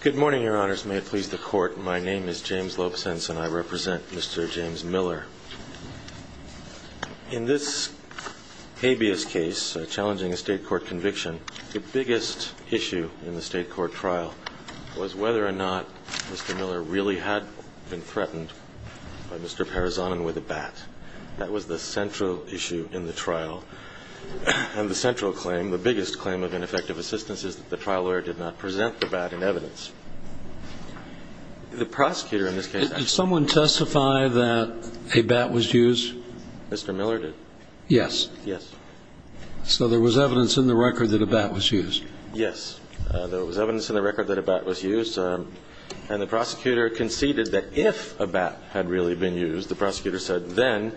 Good morning, Your Honors. May it please the Court, my name is James Lopesense and I represent Mr. James Miller. In this habeas case, challenging a state court conviction, the biggest issue in the state court trial was whether or not Mr. Miller really had been threatened by Mr. Parazonin with a bat. That was the central issue in the trial. And the central claim, the biggest claim of ineffective assistance, is that the trial lawyer did not present the bat in evidence. The prosecutor in this case... Did someone testify that a bat was used? Mr. Miller did. Yes. Yes. So there was evidence in the record that a bat was used. Yes. There was evidence in the record that a bat was used. And the prosecutor conceded that if a bat had really been used, the prosecutor said, then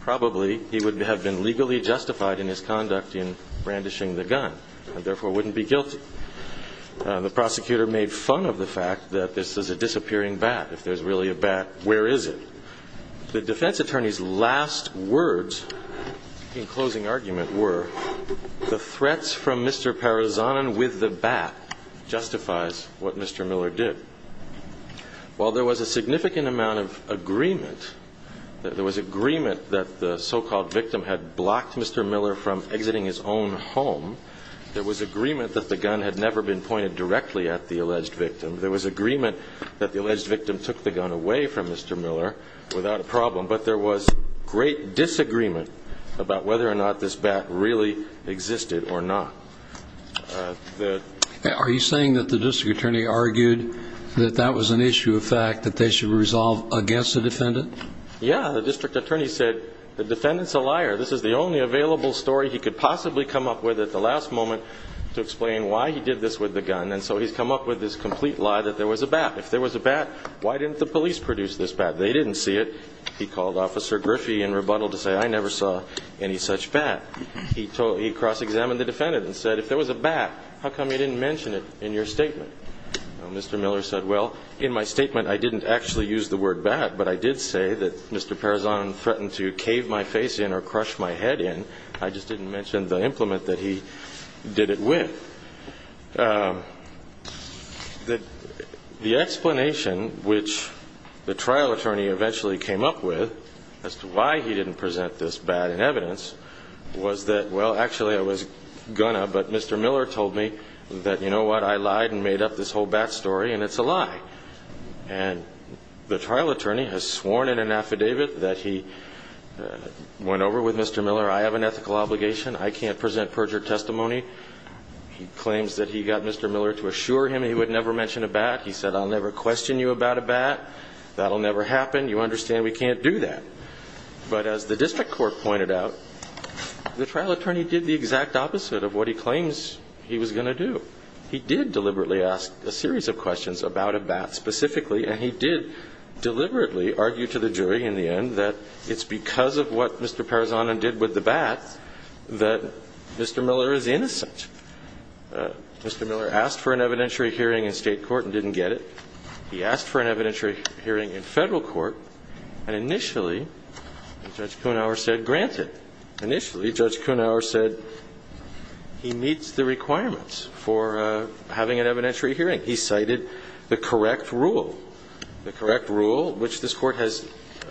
probably he would have been legally justified in his conduct in brandishing the gun and therefore wouldn't be guilty. The prosecutor made fun of the fact that this is a disappearing bat. If there's really a bat, where is it? The defense attorney's last words in closing argument were, the threats from Mr. Parazonin with the bat justifies what Mr. Miller did. While there was a significant amount of agreement, there was agreement that the so-called victim had blocked Mr. Miller from exiting his own home, there was agreement that the gun had never been pointed directly at the alleged victim. There was agreement that the alleged victim took the gun away from Mr. Miller without a problem, but there was great disagreement about whether or not this bat really existed or not. Are you saying that the district attorney argued that that was an issue of fact, that they should resolve against the defendant? Yeah. The district attorney said, the defendant's a liar. This is the only available story he could possibly come up with at the last moment to explain why he did this with the gun. And so he's come up with this complete lie that there was a bat. If there was a bat, why didn't the police produce this bat? They didn't see it. He called Officer Griffey in rebuttal to say, I never saw any such bat. He cross-examined the defendant and said, if there was a bat, how come you didn't mention it in your statement? Mr. Miller said, well, in my statement, I didn't actually use the word bat, but I did say that Mr. Parazonin threatened to cave my face in or crush my head in. I just didn't mention the implement that he did it with. The explanation which the trial attorney eventually came up with as to why he didn't present this bat in evidence was that, well, actually, I was going to, but Mr. Miller told me that, you know what, I lied and made up this whole bat story, and it's a lie. And the trial attorney has sworn in an affidavit that he went over with Mr. Miller, I have an ethical obligation, I can't present perjured testimony. He claims that he got Mr. Miller to assure him he would never mention a bat. He said, I'll never question you about a bat. That'll never happen. You understand we can't do that. But as the district court pointed out, the trial attorney did the exact opposite of what he claims he was going to do. He did deliberately ask a series of questions about a bat specifically, and he did deliberately argue to the jury in the end that it's because of what Mr. Parazonin did with the bat that Mr. Miller is innocent. Mr. Miller asked for an evidentiary hearing in state court and didn't get it. He asked for an evidentiary hearing in federal court, and initially, Judge Kuhnhauer said, granted. Initially, Judge Kuhnhauer said he meets the requirements for having an evidentiary hearing. He cited the correct rule. The correct rule, which this court has,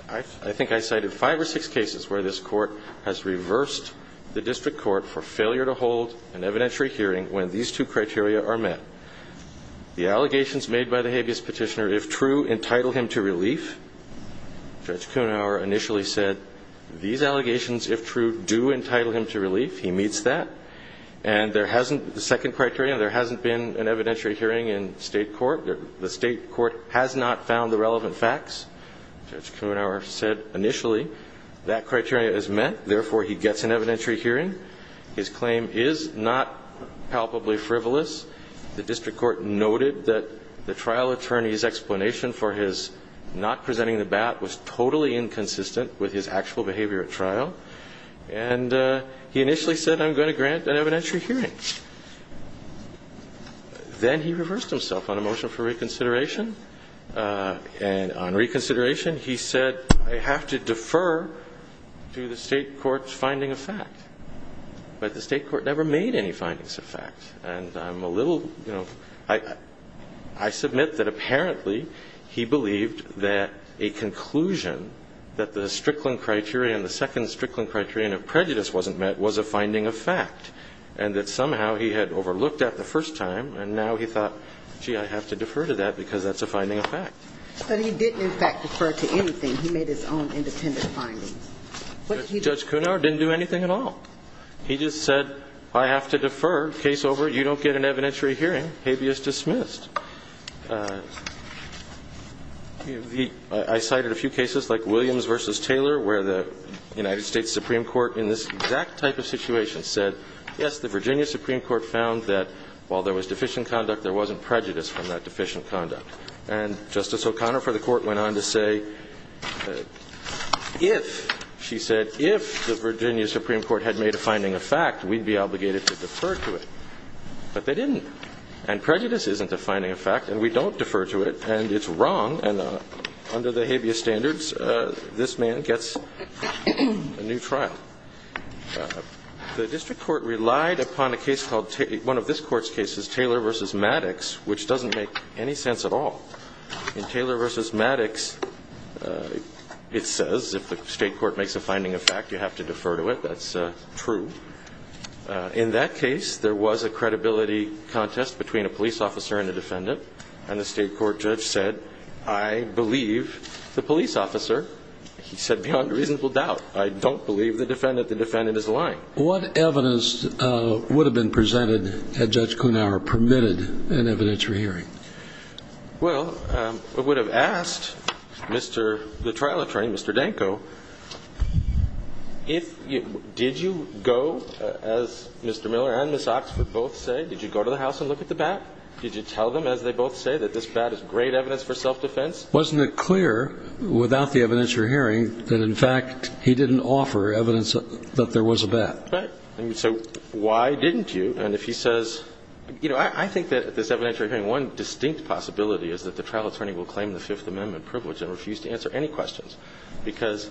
I think I cited five or six cases where this court has reversed the district court for failure to hold an evidentiary hearing when these two criteria are met. The allegations made by the habeas petitioner, if true, entitle him to relief. Judge Kuhnhauer initially said these allegations, if true, do entitle him to relief. He meets that. And there hasn't, the second criteria, there hasn't been an evidentiary hearing in state court. The state court has not found the relevant facts. Judge Kuhnhauer said initially that criteria is met. Therefore, he gets an evidentiary hearing. His claim is not palpably frivolous. The district court noted that the trial attorney's explanation for his not presenting the bat was totally inconsistent with his actual behavior at trial. And he initially said, I'm going to grant an evidentiary hearing. Then he reversed himself on a motion for reconsideration. And on reconsideration, he said, I have to defer to the state court's finding of fact. But the state court never made any findings of fact. And I'm a little, you know, I submit that apparently he believed that a conclusion that the Strickland criteria and the second Strickland criteria of prejudice wasn't met was a finding of fact. And that somehow he had overlooked that the first time. And now he thought, gee, I have to defer to that because that's a finding of fact. But he didn't, in fact, defer to anything. He made his own independent findings. Judge Kuhnhauer didn't do anything at all. He just said, I have to defer. Case over. You don't get an evidentiary hearing. Habeas dismissed. I cited a few cases like Williams v. Taylor, where the United States Supreme Court, in this exact type of situation, said, yes, the Virginia Supreme Court found that while there was deficient conduct, there wasn't prejudice from that deficient conduct. And Justice O'Connor for the Court went on to say, if, she said, if the Virginia Supreme Court had made a finding of fact, we'd be obligated to defer to it. But they didn't. And prejudice isn't a finding of fact. And we don't defer to it. And it's wrong. And under the habeas standards, this man gets a new trial. The district court relied upon a case called, one of this court's cases, Taylor v. Maddox, which doesn't make any sense at all. In Taylor v. Maddox, it says if the state court makes a finding of fact, you have to defer to it. That's true. In that case, there was a credibility contest between a police officer and a defendant. And the state court judge said, I believe the police officer. He said, beyond reasonable doubt. I don't believe the defendant. The defendant is lying. What evidence would have been presented had Judge Kuenhauer permitted an evidentiary hearing? Well, it would have asked Mr. the trial attorney, Mr. Danko, did you go, as Mr. Miller and Ms. Oxford both say, did you go to the house and look at the bat? Did you tell them, as they both say, that this bat is great evidence for self-defense? Wasn't it clear without the evidentiary hearing that, in fact, he didn't offer evidence that there was a bat? Right. So why didn't you? And if he says, you know, I think that this evidentiary hearing, one distinct possibility is that the trial attorney will claim the Fifth Amendment privilege and refuse to answer any questions because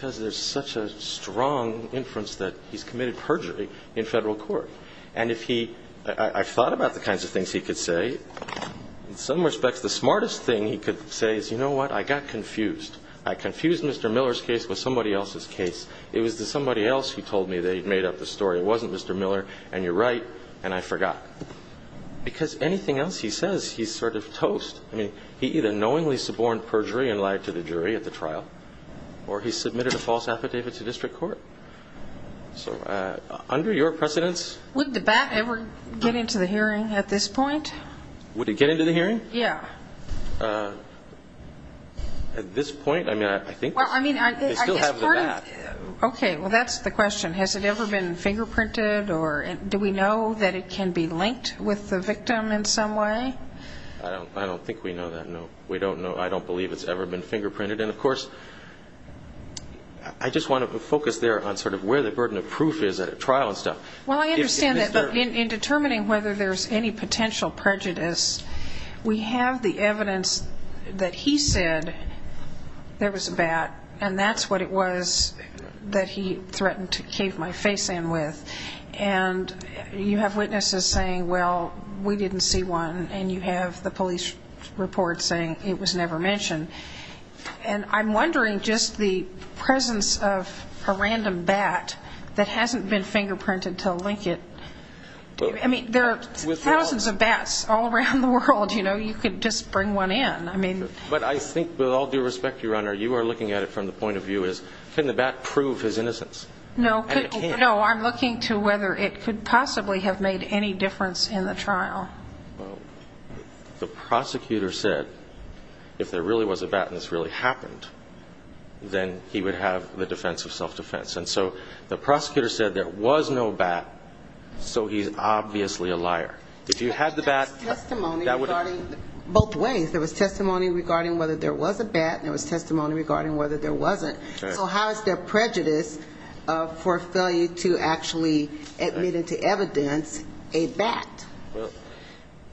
there's such a strong inference that he's committed perjury in federal court. And if he – I've thought about the kinds of things he could say. In some respects, the smartest thing he could say is, you know what, I got confused. I confused Mr. Miller's case with somebody else's case. It was somebody else who told me that he'd made up the story. It wasn't Mr. Miller, and you're right, and I forgot. Because anything else he says, he's sort of toast. I mean, he either knowingly suborned perjury and lied to the jury at the trial, or he submitted a false affidavit to district court. So under your precedence? Would the bat ever get into the hearing at this point? Would it get into the hearing? Yeah. At this point, I mean, I think they still have the bat. Okay, well, that's the question. Has it ever been fingerprinted, or do we know that it can be linked with the victim in some way? I don't think we know that, no. We don't know. I don't believe it's ever been fingerprinted. And, of course, I just want to focus there on sort of where the burden of proof is at a trial and stuff. Well, I understand that, but in determining whether there's any potential prejudice, we have the evidence that he said there was a bat, and that's what it was that he threatened to cave my face in with. And you have witnesses saying, well, we didn't see one, and you have the police report saying it was never mentioned. And I'm wondering just the presence of a random bat that hasn't been fingerprinted to link it. I mean, there are thousands of bats all around the world. You know, you could just bring one in. But I think, with all due respect, Your Honor, you are looking at it from the point of view as, can the bat prove his innocence? No, I'm looking to whether it could possibly have made any difference in the trial. Well, the prosecutor said if there really was a bat and this really happened, then he would have the defense of self-defense. And so the prosecutor said there was no bat, so he's obviously a liar. If you had the bat, that would have been. There was testimony regarding both ways. There was testimony regarding whether there was a bat, and there was testimony regarding whether there wasn't. So how is there prejudice for failure to actually admit into evidence a bat?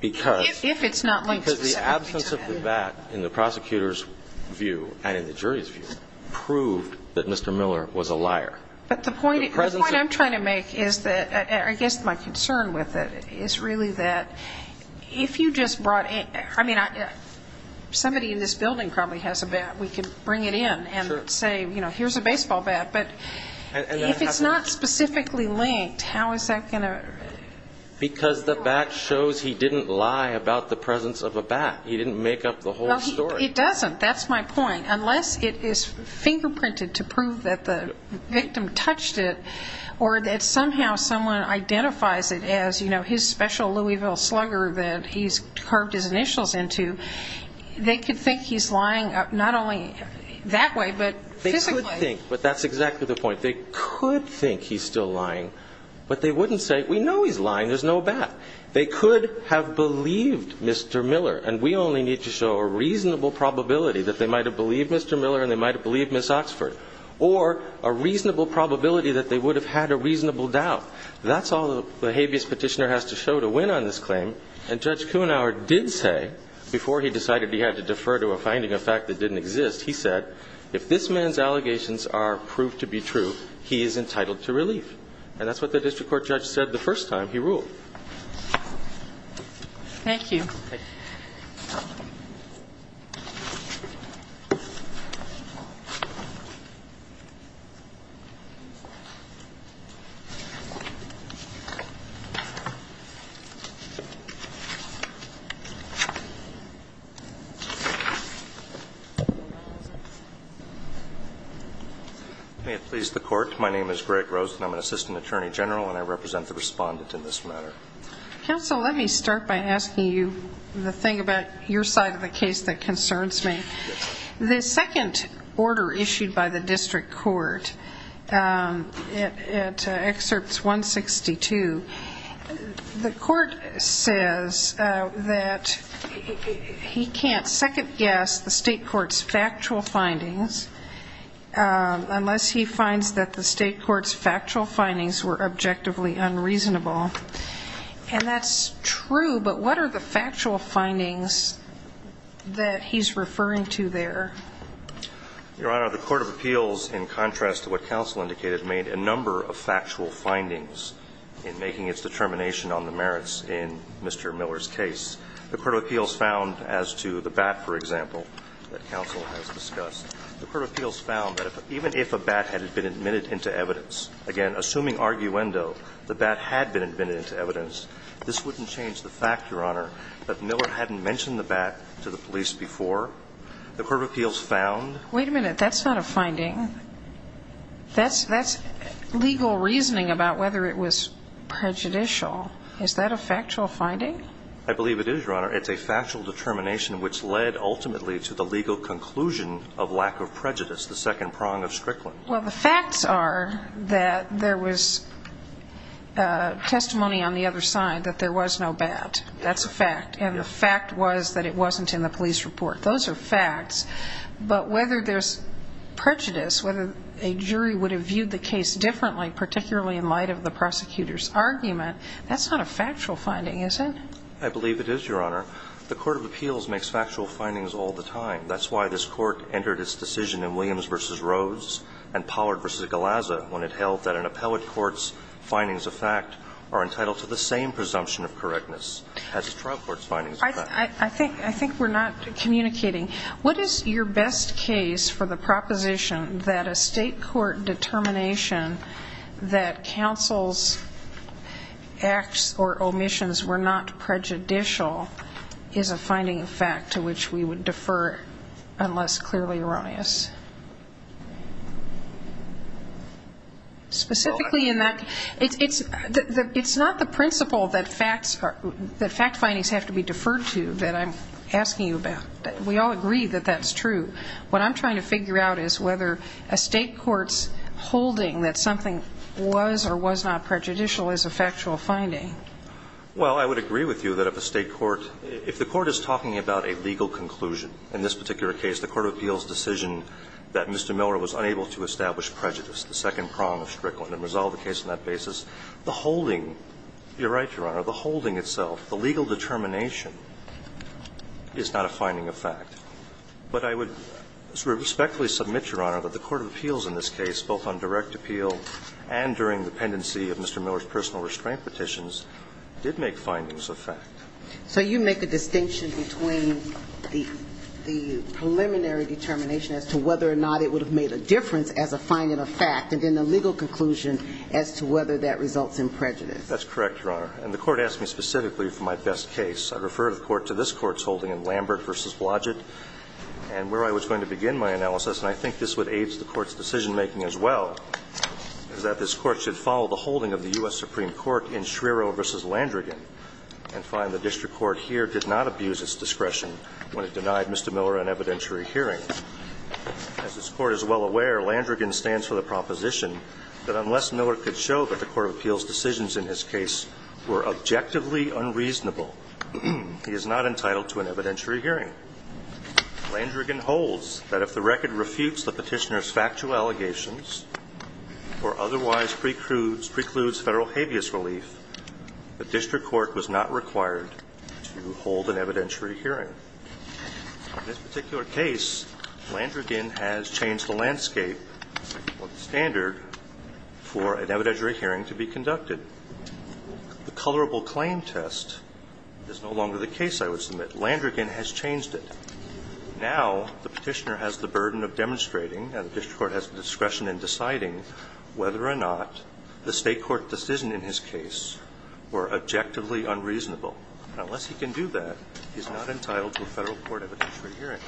If it's not linked specifically to that. Because the absence of the bat in the prosecutor's view and in the jury's view proved that Mr. Miller was a liar. But the point I'm trying to make is that I guess my concern with it is really that if you just brought in, I mean, somebody in this building probably has a bat. We could bring it in and say, you know, here's a baseball bat. But if it's not specifically linked, how is that going to? Because the bat shows he didn't lie about the presence of a bat. He didn't make up the whole story. It doesn't. That's my point. Unless it is fingerprinted to prove that the victim touched it or that somehow someone identifies it as, you know, his special Louisville slugger that he's carved his initials into, they could think he's lying not only that way, but physically. They could think, but that's exactly the point. They could think he's still lying. But they wouldn't say, we know he's lying. There's no bat. They could have believed Mr. Miller, and we only need to show a reasonable probability that they might have believed Mr. Miller and they might have believed Ms. Oxford, or a reasonable probability that they would have had a reasonable doubt. That's all the habeas petitioner has to show to win on this claim. And Judge Kuenhauer did say, before he decided he had to defer to a finding of fact that didn't exist, he said, if this man's allegations are proved to be true, he is entitled to relief. And that's what the district court judge said the first time he ruled. Thank you. My name is Greg Rosen. I'm an assistant attorney general, and I represent the respondent in this matter. Counsel, let me start by asking you the thing about your side of the case that concerns me. The second order issued by the district court at Excerpt 162, the court says that he can't second guess the state court's factual findings unless he finds that the state court's factual findings were objectively unreasonable. And that's true, but what are the factual findings that he's referring to there? Your Honor, the court of appeals, in contrast to what counsel indicated, made a number of factual findings in making its determination on the merits in Mr. Miller's case. The court of appeals found, as to the bat, for example, that counsel has discussed, the court of appeals found that even if a bat had been admitted into evidence, again, assuming arguendo, the bat had been admitted into evidence, this wouldn't change the fact, Your Honor, that Miller hadn't mentioned the bat to the police before. The court of appeals found... Wait a minute. That's not a finding. That's legal reasoning about whether it was prejudicial. Is that a factual finding? I believe it is, Your Honor. It's a factual determination which led ultimately to the legal conclusion of lack of prejudice, the second prong of Strickland. Well, the facts are that there was testimony on the other side that there was no bat. That's a fact. And the fact was that it wasn't in the police report. Those are facts. But whether there's prejudice, whether a jury would have viewed the case differently, particularly in light of the prosecutor's argument, that's not a factual finding, is it? I believe it is, Your Honor. The court of appeals makes factual findings all the time. That's why this court entered its decision in Williams v. Rhodes and Pollard v. Galazza when it held that an appellate court's findings of fact are entitled to the same presumption of correctness as a trial court's findings of fact. I think we're not communicating. What is your best case for the proposition that a state court determination that counsel's acts or omissions were not prejudicial is a finding of fact to which we would defer unless clearly erroneous? Specifically in that, it's not the principle that fact findings have to be deferred to that I'm asking you about. We all agree that that's true. What I'm trying to figure out is whether a state court's holding that something was or was not prejudicial is a factual finding. Well, I would agree with you that if a state court – if the court is talking about a legal conclusion in this particular case, the court of appeals' decision that Mr. Miller was unable to establish prejudice, the second prong of Strickland, and resolve the case on that basis, the holding – you're right, Your Honor – the holding itself, the legal determination is not a finding of fact. But I would respectfully submit, Your Honor, that the court of appeals in this case, both on direct appeal and during the pendency of Mr. Miller's personal restraint petitions, did make findings of fact. So you make a distinction between the preliminary determination as to whether or not it would have made a difference as a finding of fact and then the legal conclusion as to whether that results in prejudice. That's correct, Your Honor. And the court asked me specifically for my best case. I referred the court to this court's holding in Lambert v. Blodgett and where I was going to begin my analysis, and I think this would aid the court's decision-making as well, is that this court should follow the holding of the U.S. Supreme Court in Schreiro v. Landrigan and find the district court here did not abuse its discretion when it denied Mr. Miller an evidentiary hearing. As this court is well aware, Landrigan stands for the proposition that unless Miller could show that the court of appeals' decisions in his case were objectively unreasonable, he is not entitled to an evidentiary hearing. Landrigan holds that if the record refutes the petitioner's factual allegations or otherwise precludes federal habeas relief, the district court was not required to hold an evidentiary hearing. In this particular case, Landrigan has changed the landscape or the standard for an evidentiary hearing to be conducted. The colorable claim test is no longer the case, I would submit. Landrigan has changed it. Now the petitioner has the burden of demonstrating and the district court has the discretion in deciding whether or not the state court decision in his case were objectively unreasonable. Unless he can do that, he's not entitled to a federal court evidentiary hearing.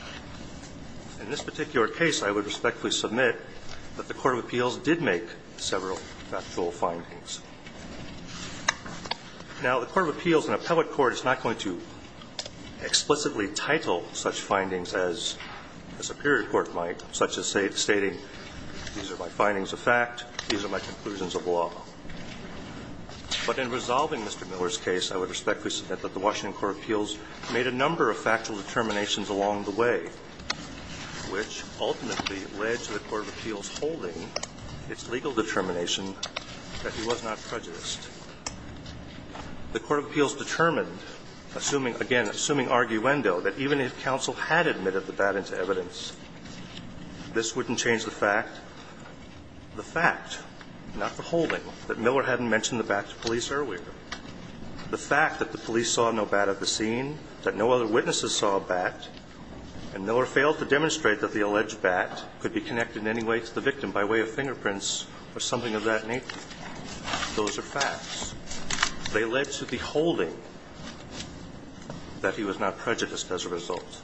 In this particular case, I would respectfully submit that the court of appeals did make several factual findings. Now, the court of appeals in a public court is not going to explicitly title such findings as a superior court might, such as stating these are my findings of fact, these are my conclusions of law. But in resolving Mr. Miller's case, I would respectfully submit that the Washington court of appeals made a number of factual determinations along the way, which ultimately led to the court of appeals holding its legal determination that he was not prejudiced. The court of appeals determined, assuming again, assuming arguendo, that even if counsel had admitted the bat into evidence, this wouldn't change the fact. The fact, not the holding, that Miller hadn't mentioned the bat to police earlier. The fact that the police saw no bat at the scene, that no other witnesses saw a bat, and Miller failed to demonstrate that the alleged bat could be connected in any way to the victim by way of fingerprints or something of that nature. Those are facts. They led to the holding that he was not prejudiced as a result.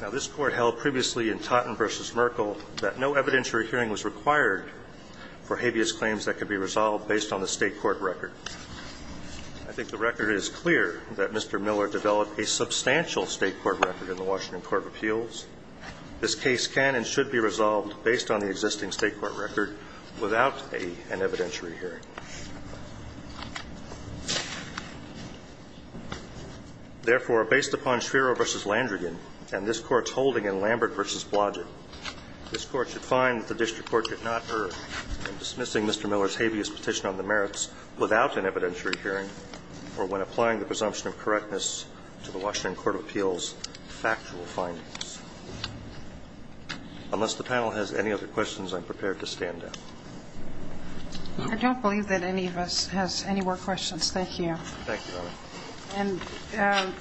Now, this court held previously in Totten v. Merkel that no evidentiary hearing was required for habeas claims that could be resolved based on the state court record. I think the record is clear that Mr. Miller developed a substantial state court record in the Washington court of appeals. This case can and should be resolved based on the existing state court record without an evidentiary hearing. Therefore, based upon Schreiro v. Landrigan and this Court's holding in Lambert v. Blodgett, this Court should find that the district court did not err in dismissing Mr. Miller's habeas petition on the merits without an evidentiary hearing or when applying the presumption of correctness to the Washington court of appeals factual findings. Unless the panel has any other questions, I'm prepared to stand down. I don't believe that any of us has any more questions. Thank you. Thank you, Your Honor. And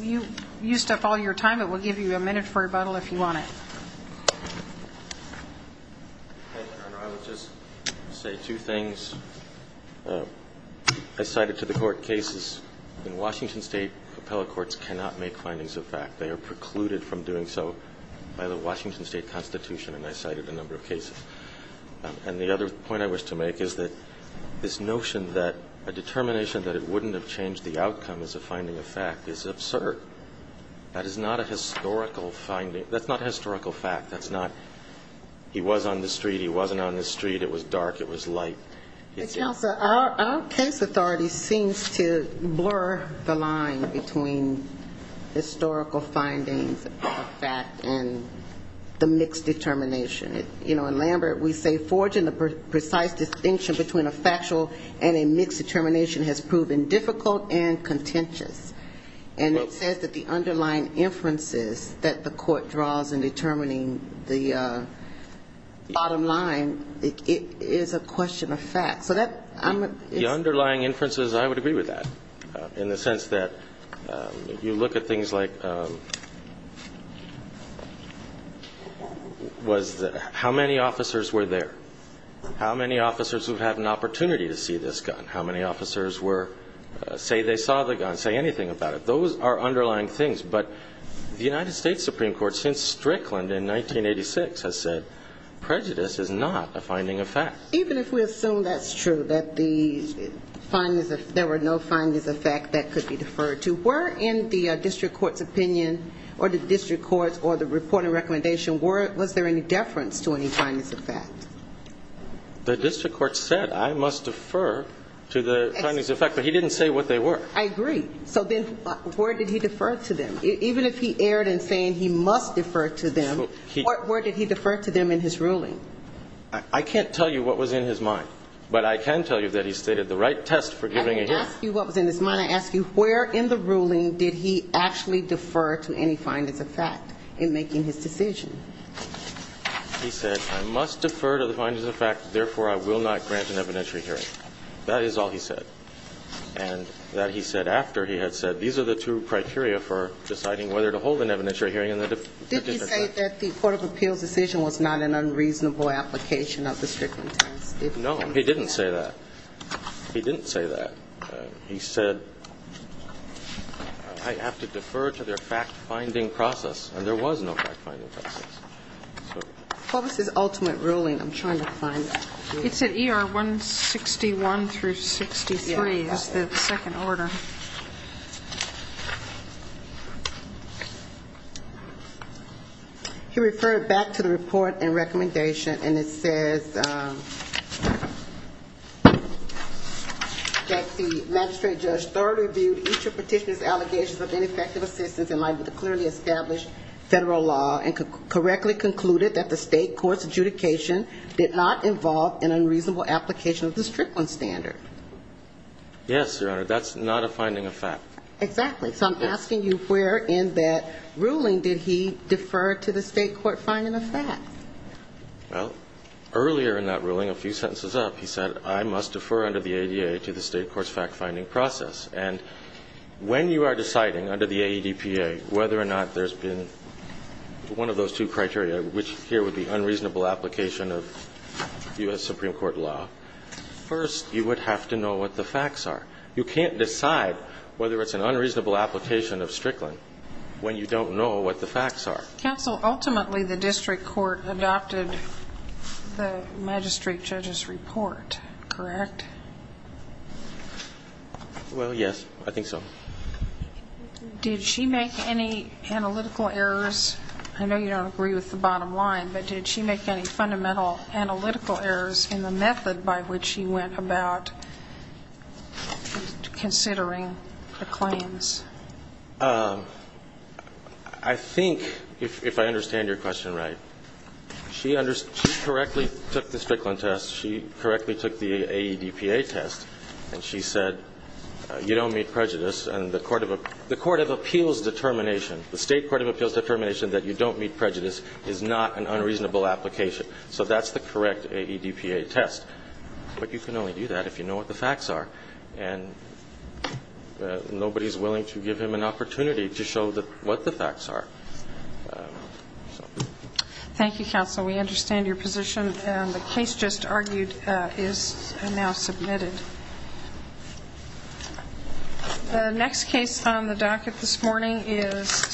you used up all your time. It will give you a minute for rebuttal if you want it. Thank you, Your Honor. I will just say two things. I cited to the Court cases. In Washington State, appellate courts cannot make findings of fact. They are precluded from doing so by the Washington State Constitution, and I cited a number of cases. And the other point I wish to make is that this notion that a determination that it wouldn't have changed the outcome as a finding of fact is absurd. That is not a historical finding. That's not historical fact. He was on the street. He wasn't on the street. It was dark. It was light. But, Counselor, our case authority seems to blur the line between historical findings of fact and the mixed determination. You know, in Lambert, we say, Forging the precise distinction between a factual and a mixed determination has proven difficult and contentious. And it says that the underlying inferences that the Court draws in determining the bottom line is a question of fact. So that's the underlying inferences. I would agree with that in the sense that you look at things like how many officers were there, how many officers would have an opportunity to see this Those are underlying things. But the United States Supreme Court, since Strickland in 1986, has said prejudice is not a finding of fact. Even if we assume that's true, that there were no findings of fact that could be deferred to, were in the district court's opinion or the district court's or the reporting recommendation, was there any deference to any findings of fact? The district court said, I must defer to the findings of fact. But he didn't say what they were. I agree. So then where did he defer to them? Even if he erred in saying he must defer to them, where did he defer to them in his ruling? I can't tell you what was in his mind. But I can tell you that he stated the right test for giving a hearing. I didn't ask you what was in his mind. I asked you where in the ruling did he actually defer to any findings of fact in making his decision? He said, I must defer to the findings of fact. Therefore, I will not grant an evidentiary hearing. That is all he said. And that he said after he had said, these are the two criteria for deciding whether to hold an evidentiary hearing in the district court. Did he say that the court of appeals decision was not an unreasonable application of the Strickland test? No, he didn't say that. He didn't say that. He said, I have to defer to their fact-finding process. And there was no fact-finding process. What was his ultimate ruling? I'm trying to find it. It's at ER 161 through 63 is the second order. He referred back to the report and recommendation, and it says that the magistrate judge thoroughly reviewed each of the petitioner's allegations of ineffective assistance in line with the clearly established federal law and correctly concluded that the state court's fact-finding process was not an unreasonable application of the Strickland standard. Yes, Your Honor. That's not a finding of fact. Exactly. So I'm asking you where in that ruling did he defer to the state court finding of fact? Well, earlier in that ruling, a few sentences up, he said I must defer under the ADA to the state court's fact-finding process. And when you are deciding under the AEDPA whether or not there's been one of those two criteria, which here would be unreasonable application of U.S. Supreme Court law, first you would have to know what the facts are. You can't decide whether it's an unreasonable application of Strickland when you don't know what the facts are. Counsel, ultimately the district court adopted the magistrate judge's report, correct? Well, yes, I think so. Did she make any analytical errors? I know you don't agree with the bottom line, but did she make any fundamental analytical errors in the method by which she went about considering the claims? I think, if I understand your question right, she correctly took the Strickland test, she correctly took the AEDPA test, and she said you don't meet prejudice. And the court of appeals determination, the state court of appeals determination that you don't meet prejudice is not an unreasonable application. So that's the correct AEDPA test. But you can only do that if you know what the facts are. And nobody is willing to give him an opportunity to show what the facts are. Thank you, Counsel. We understand your position. And the case just argued is now submitted. The next case on the docket this morning is